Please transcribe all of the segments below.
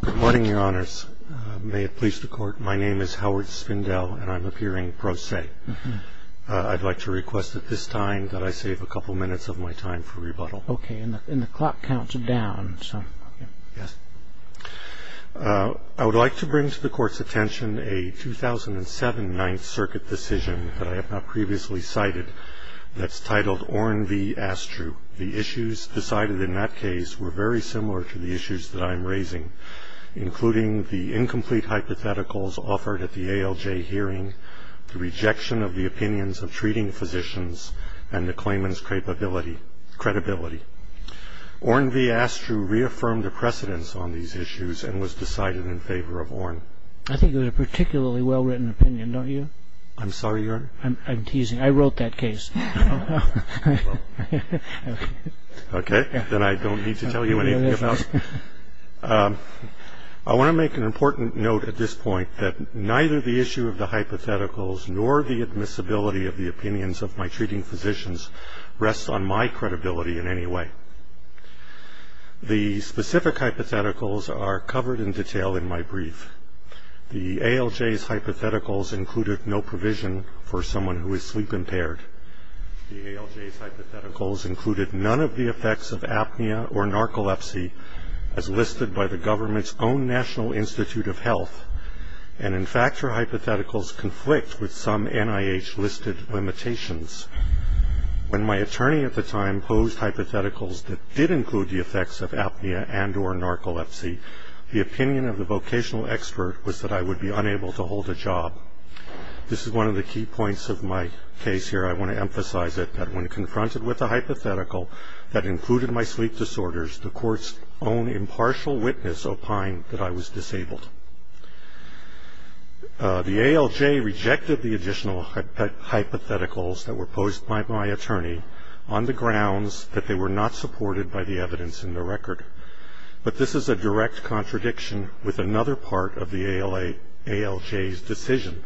Good morning, Your Honors. May it please the Court, my name is Howard Spindel, and I'm appearing pro se. I'd like to request at this time that I save a couple minutes of my time for rebuttal. Okay, and the clock counts down, so... Yes. I would like to bring to the Court's attention a 2007 Ninth Circuit decision that I have not previously cited that's titled Orne v. Astru. The issues decided in that case were very similar to the issues that I'm raising, including the incomplete hypotheticals offered at the ALJ hearing, the rejection of the opinions of treating physicians, and the claimant's credibility. Orne v. Astru reaffirmed the precedence on these issues and was decided in favor of Orne. I think it was a particularly well-written opinion, don't you? I'm sorry, Your Honor? I'm teasing. I wrote that case. Okay, then I don't need to tell you anything else. I want to make an important note at this point that neither the issue of the hypotheticals nor the admissibility of the opinions of my treating physicians rests on my credibility in any way. The specific hypotheticals are covered in detail in my brief. The ALJ's hypotheticals included no provision for someone who is sleep-impaired. The ALJ's hypotheticals included none of the effects of apnea or narcolepsy as listed by the government's own National Institute of Health, and, in fact, her hypotheticals conflict with some NIH-listed limitations. When my attorney at the time posed hypotheticals that did include the effects of apnea and or narcolepsy, the opinion of the vocational expert was that I would be unable to hold a job. This is one of the key points of my case here. I want to emphasize it, that when confronted with a hypothetical that included my sleep disorders, the court's own impartial witness opined that I was disabled. The ALJ rejected the additional hypotheticals that were posed by my attorney on the grounds that they were not supported by the evidence in the record. But this is a direct contradiction with another part of the ALJ's decision,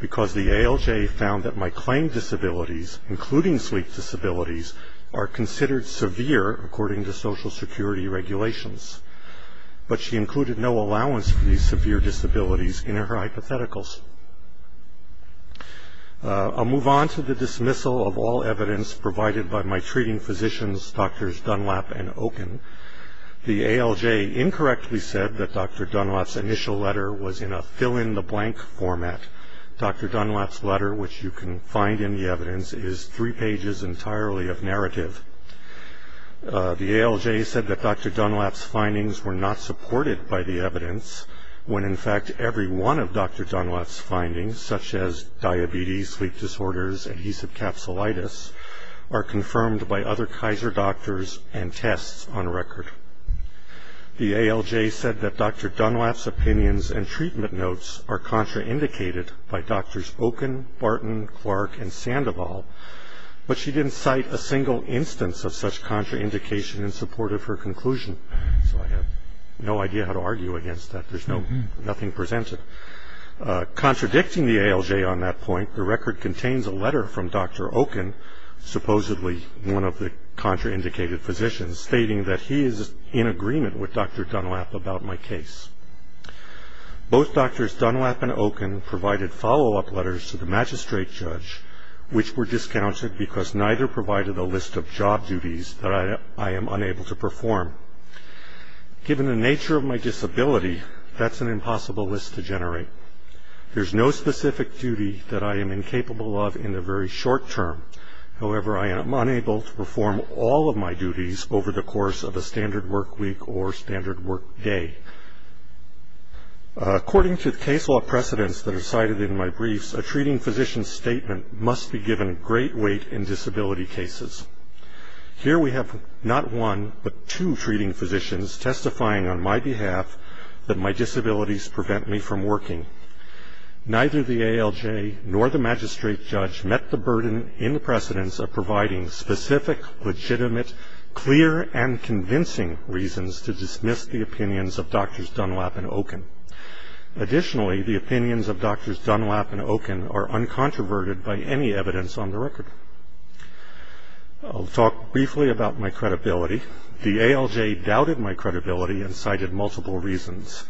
because the ALJ found that my claimed disabilities, including sleep disabilities, are considered severe according to Social Security regulations. But she included no allowance for these severe disabilities in her hypotheticals. I'll move on to the dismissal of all evidence provided by my treating physicians, Drs. Dunlap and Okun. The ALJ incorrectly said that Dr. Dunlap's initial letter was in a fill-in-the-blank format. Dr. Dunlap's letter, which you can find in the evidence, is three pages entirely of narrative. The ALJ said that Dr. Dunlap's findings were not supported by the evidence, when in fact every one of Dr. Dunlap's findings, such as diabetes, sleep disorders, adhesive capsulitis, are confirmed by other Kaiser doctors and tests on record. The ALJ said that Dr. Dunlap's opinions and treatment notes are contraindicated by Drs. Okun, Barton, Clark, and Sandoval, but she didn't cite a single instance of such contraindication in support of her conclusion. So I have no idea how to argue against that. There's nothing presented. Contradicting the ALJ on that point, the record contains a letter from Dr. Okun, supposedly one of the contraindicated physicians, stating that he is in agreement with Dr. Dunlap about my case. Both Drs. Dunlap and Okun provided follow-up letters to the magistrate judge, which were discounted because neither provided a list of job duties that I am unable to perform. Given the nature of my disability, that's an impossible list to generate. There's no specific duty that I am incapable of in the very short term. However, I am unable to perform all of my duties over the course of a standard work week or standard work day. According to the case law precedents that are cited in my briefs, a treating physician's statement must be given great weight in disability cases. Here we have not one but two treating physicians testifying on my behalf that my disabilities prevent me from working. Neither the ALJ nor the magistrate judge met the burden in the precedents of providing specific, legitimate, clear, and convincing reasons to dismiss the opinions of Drs. Dunlap and Okun. Additionally, the opinions of Drs. Dunlap and Okun are uncontroverted by any evidence on the record. I'll talk briefly about my credibility. The ALJ doubted my credibility and cited multiple reasons.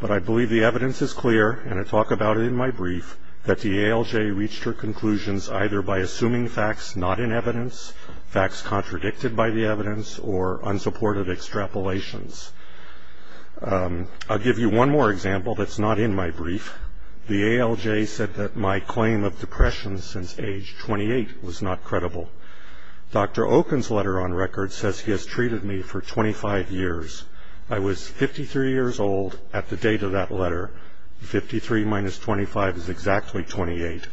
But I believe the evidence is clear, and I talk about it in my brief, that the ALJ reached her conclusions either by assuming facts not in evidence, facts contradicted by the evidence, or unsupported extrapolations. I'll give you one more example that's not in my brief. The ALJ said that my claim of depression since age 28 was not credible. Dr. Okun's letter on record says he has treated me for 25 years. I was 53 years old at the date of that letter. 53 minus 25 is exactly 28.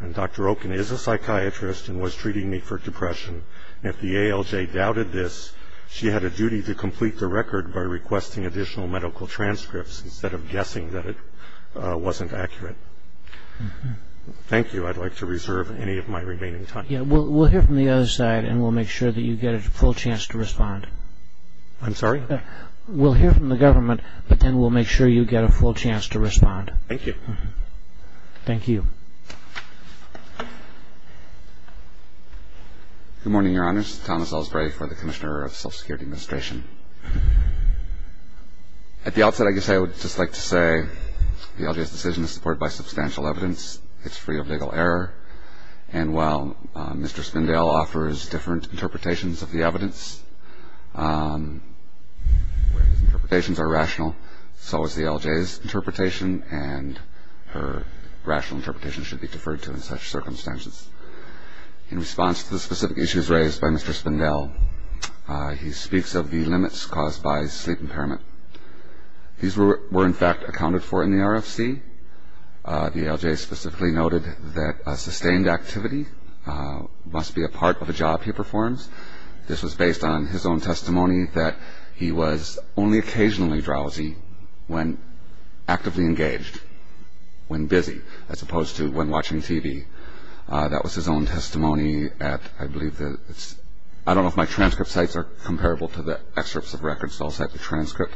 And Dr. Okun is a psychiatrist and was treating me for depression. If the ALJ doubted this, she had a duty to complete the record by requesting additional medical transcripts instead of guessing that it wasn't accurate. Thank you. I'd like to reserve any of my remaining time. We'll hear from the other side, and we'll make sure that you get a full chance to respond. I'm sorry? We'll hear from the government, but then we'll make sure you get a full chance to respond. Thank you. Thank you. Good morning, Your Honors. Thomas Elsberry for the Commissioner of Social Security Administration. At the outset, I guess I would just like to say the ALJ's decision is supported by substantial evidence. It's free of legal error. And while Mr. Spindale offers different interpretations of the evidence, where his interpretations are rational, so is the ALJ's interpretation, and her rational interpretation should be deferred to in such circumstances. In response to the specific issues raised by Mr. Spindale, he speaks of the limits caused by sleep impairment. These were, in fact, accounted for in the RFC. The ALJ specifically noted that a sustained activity must be a part of the job he performs. This was based on his own testimony that he was only occasionally drowsy when actively engaged, when busy, as opposed to when watching TV. That was his own testimony at, I believe, I don't know if my transcript sites are comparable to the excerpts of records, so I'll cite the transcript.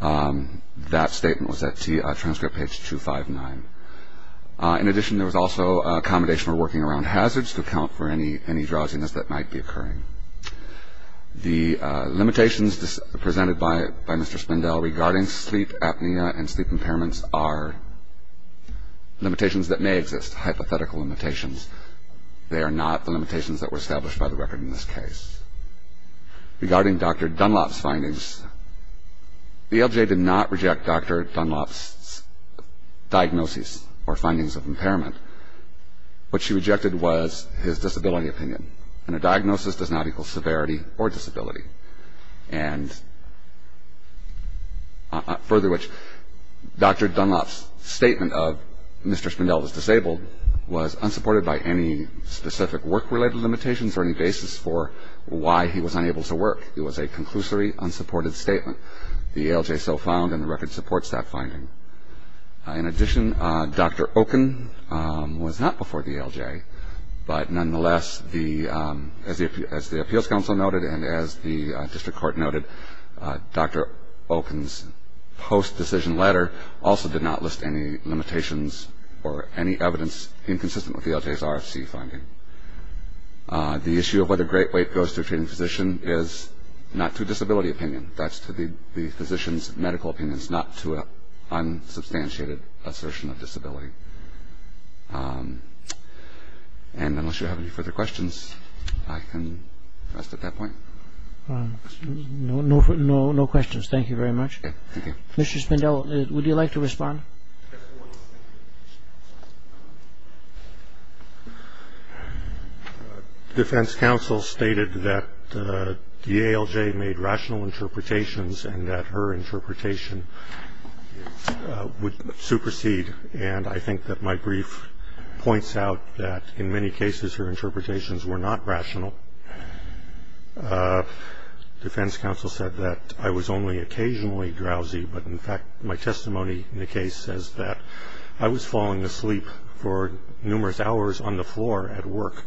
That statement was at transcript page 259. In addition, there was also accommodation for working around hazards to account for any drowsiness that might be occurring. The limitations presented by Mr. Spindale regarding sleep apnea and sleep impairments are limitations that may exist, hypothetical limitations. They are not the limitations that were established by the record in this case. Regarding Dr. Dunlop's findings, the ALJ did not reject Dr. Dunlop's diagnoses or findings of impairment. What she rejected was his disability opinion, and a diagnosis does not equal severity or disability. And further, Dr. Dunlop's statement of Mr. Spindale was disabled was unsupported by any specific work-related limitations or any basis for why he was unable to work. It was a conclusory unsupported statement. The ALJ so found, and the record supports that finding. In addition, Dr. Okun was not before the ALJ, but nonetheless, as the Appeals Council noted and as the District Court noted, Dr. Okun's post-decision letter also did not list any limitations or any evidence inconsistent with the ALJ's RFC finding. The issue of whether great weight goes to a treating physician is not to disability opinion. That's to the physician's medical opinions, not to unsubstantiated assertion of disability. And unless you have any further questions, I can rest at that point. No questions. Thank you very much. Thank you. Defense counsel stated that the ALJ made rational interpretations and that her interpretation would supersede, and I think that my brief points out that in many cases her interpretations were not rational. Defense counsel said that I was only occasionally drowsy, but in fact my testimony in the case says that I was falling asleep for numerous hours on the floor at work.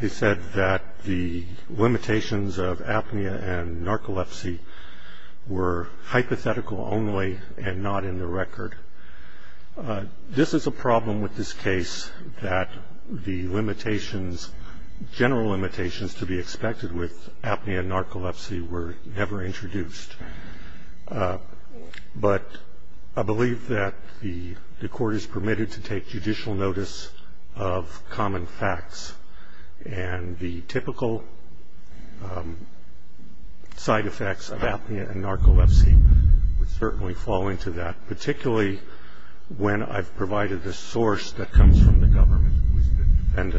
He said that the limitations of apnea and narcolepsy were hypothetical only and not in the record. This is a problem with this case that the limitations, general limitations to be expected with apnea and narcolepsy were never introduced. But I believe that the court is permitted to take judicial notice of common facts, and the typical side effects of apnea and narcolepsy would certainly fall into that, particularly when I've provided the source that comes from the government who is the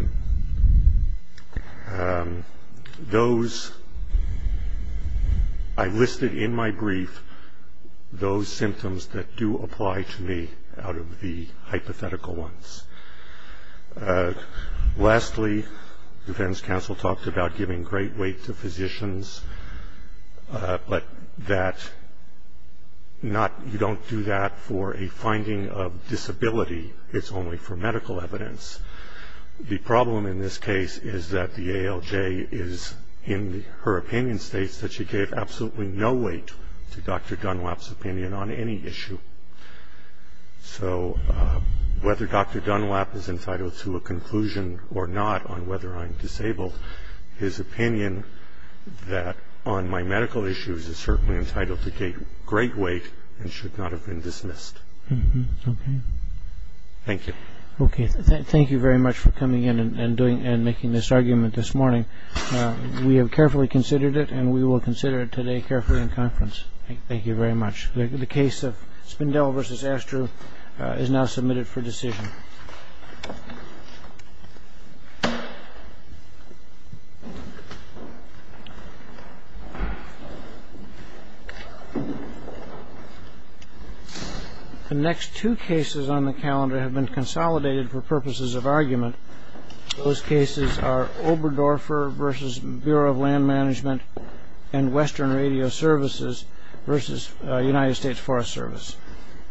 defendant. I listed in my brief those symptoms that do apply to me out of the hypothetical ones. Lastly, defense counsel talked about giving great weight to physicians, but that you don't do that for a finding of disability, it's only for medical evidence. The problem in this case is that the ALJ in her opinion states that she gave absolutely no weight to Dr. Dunlap's opinion on any issue. So whether Dr. Dunlap is entitled to a conclusion or not on whether I'm disabled, his opinion that on my medical issues is certainly entitled to take great weight and should not have been dismissed. Thank you. Okay, thank you very much for coming in and making this argument this morning. We have carefully considered it and we will consider it today carefully in conference. Thank you very much. The case of Spindel v. Astor is now submitted for decision. Thank you. The next two cases on the calendar have been consolidated for purposes of argument. Those cases are Oberdorfer v. Bureau of Land Management and Western Radio Services v. United States Forest Service.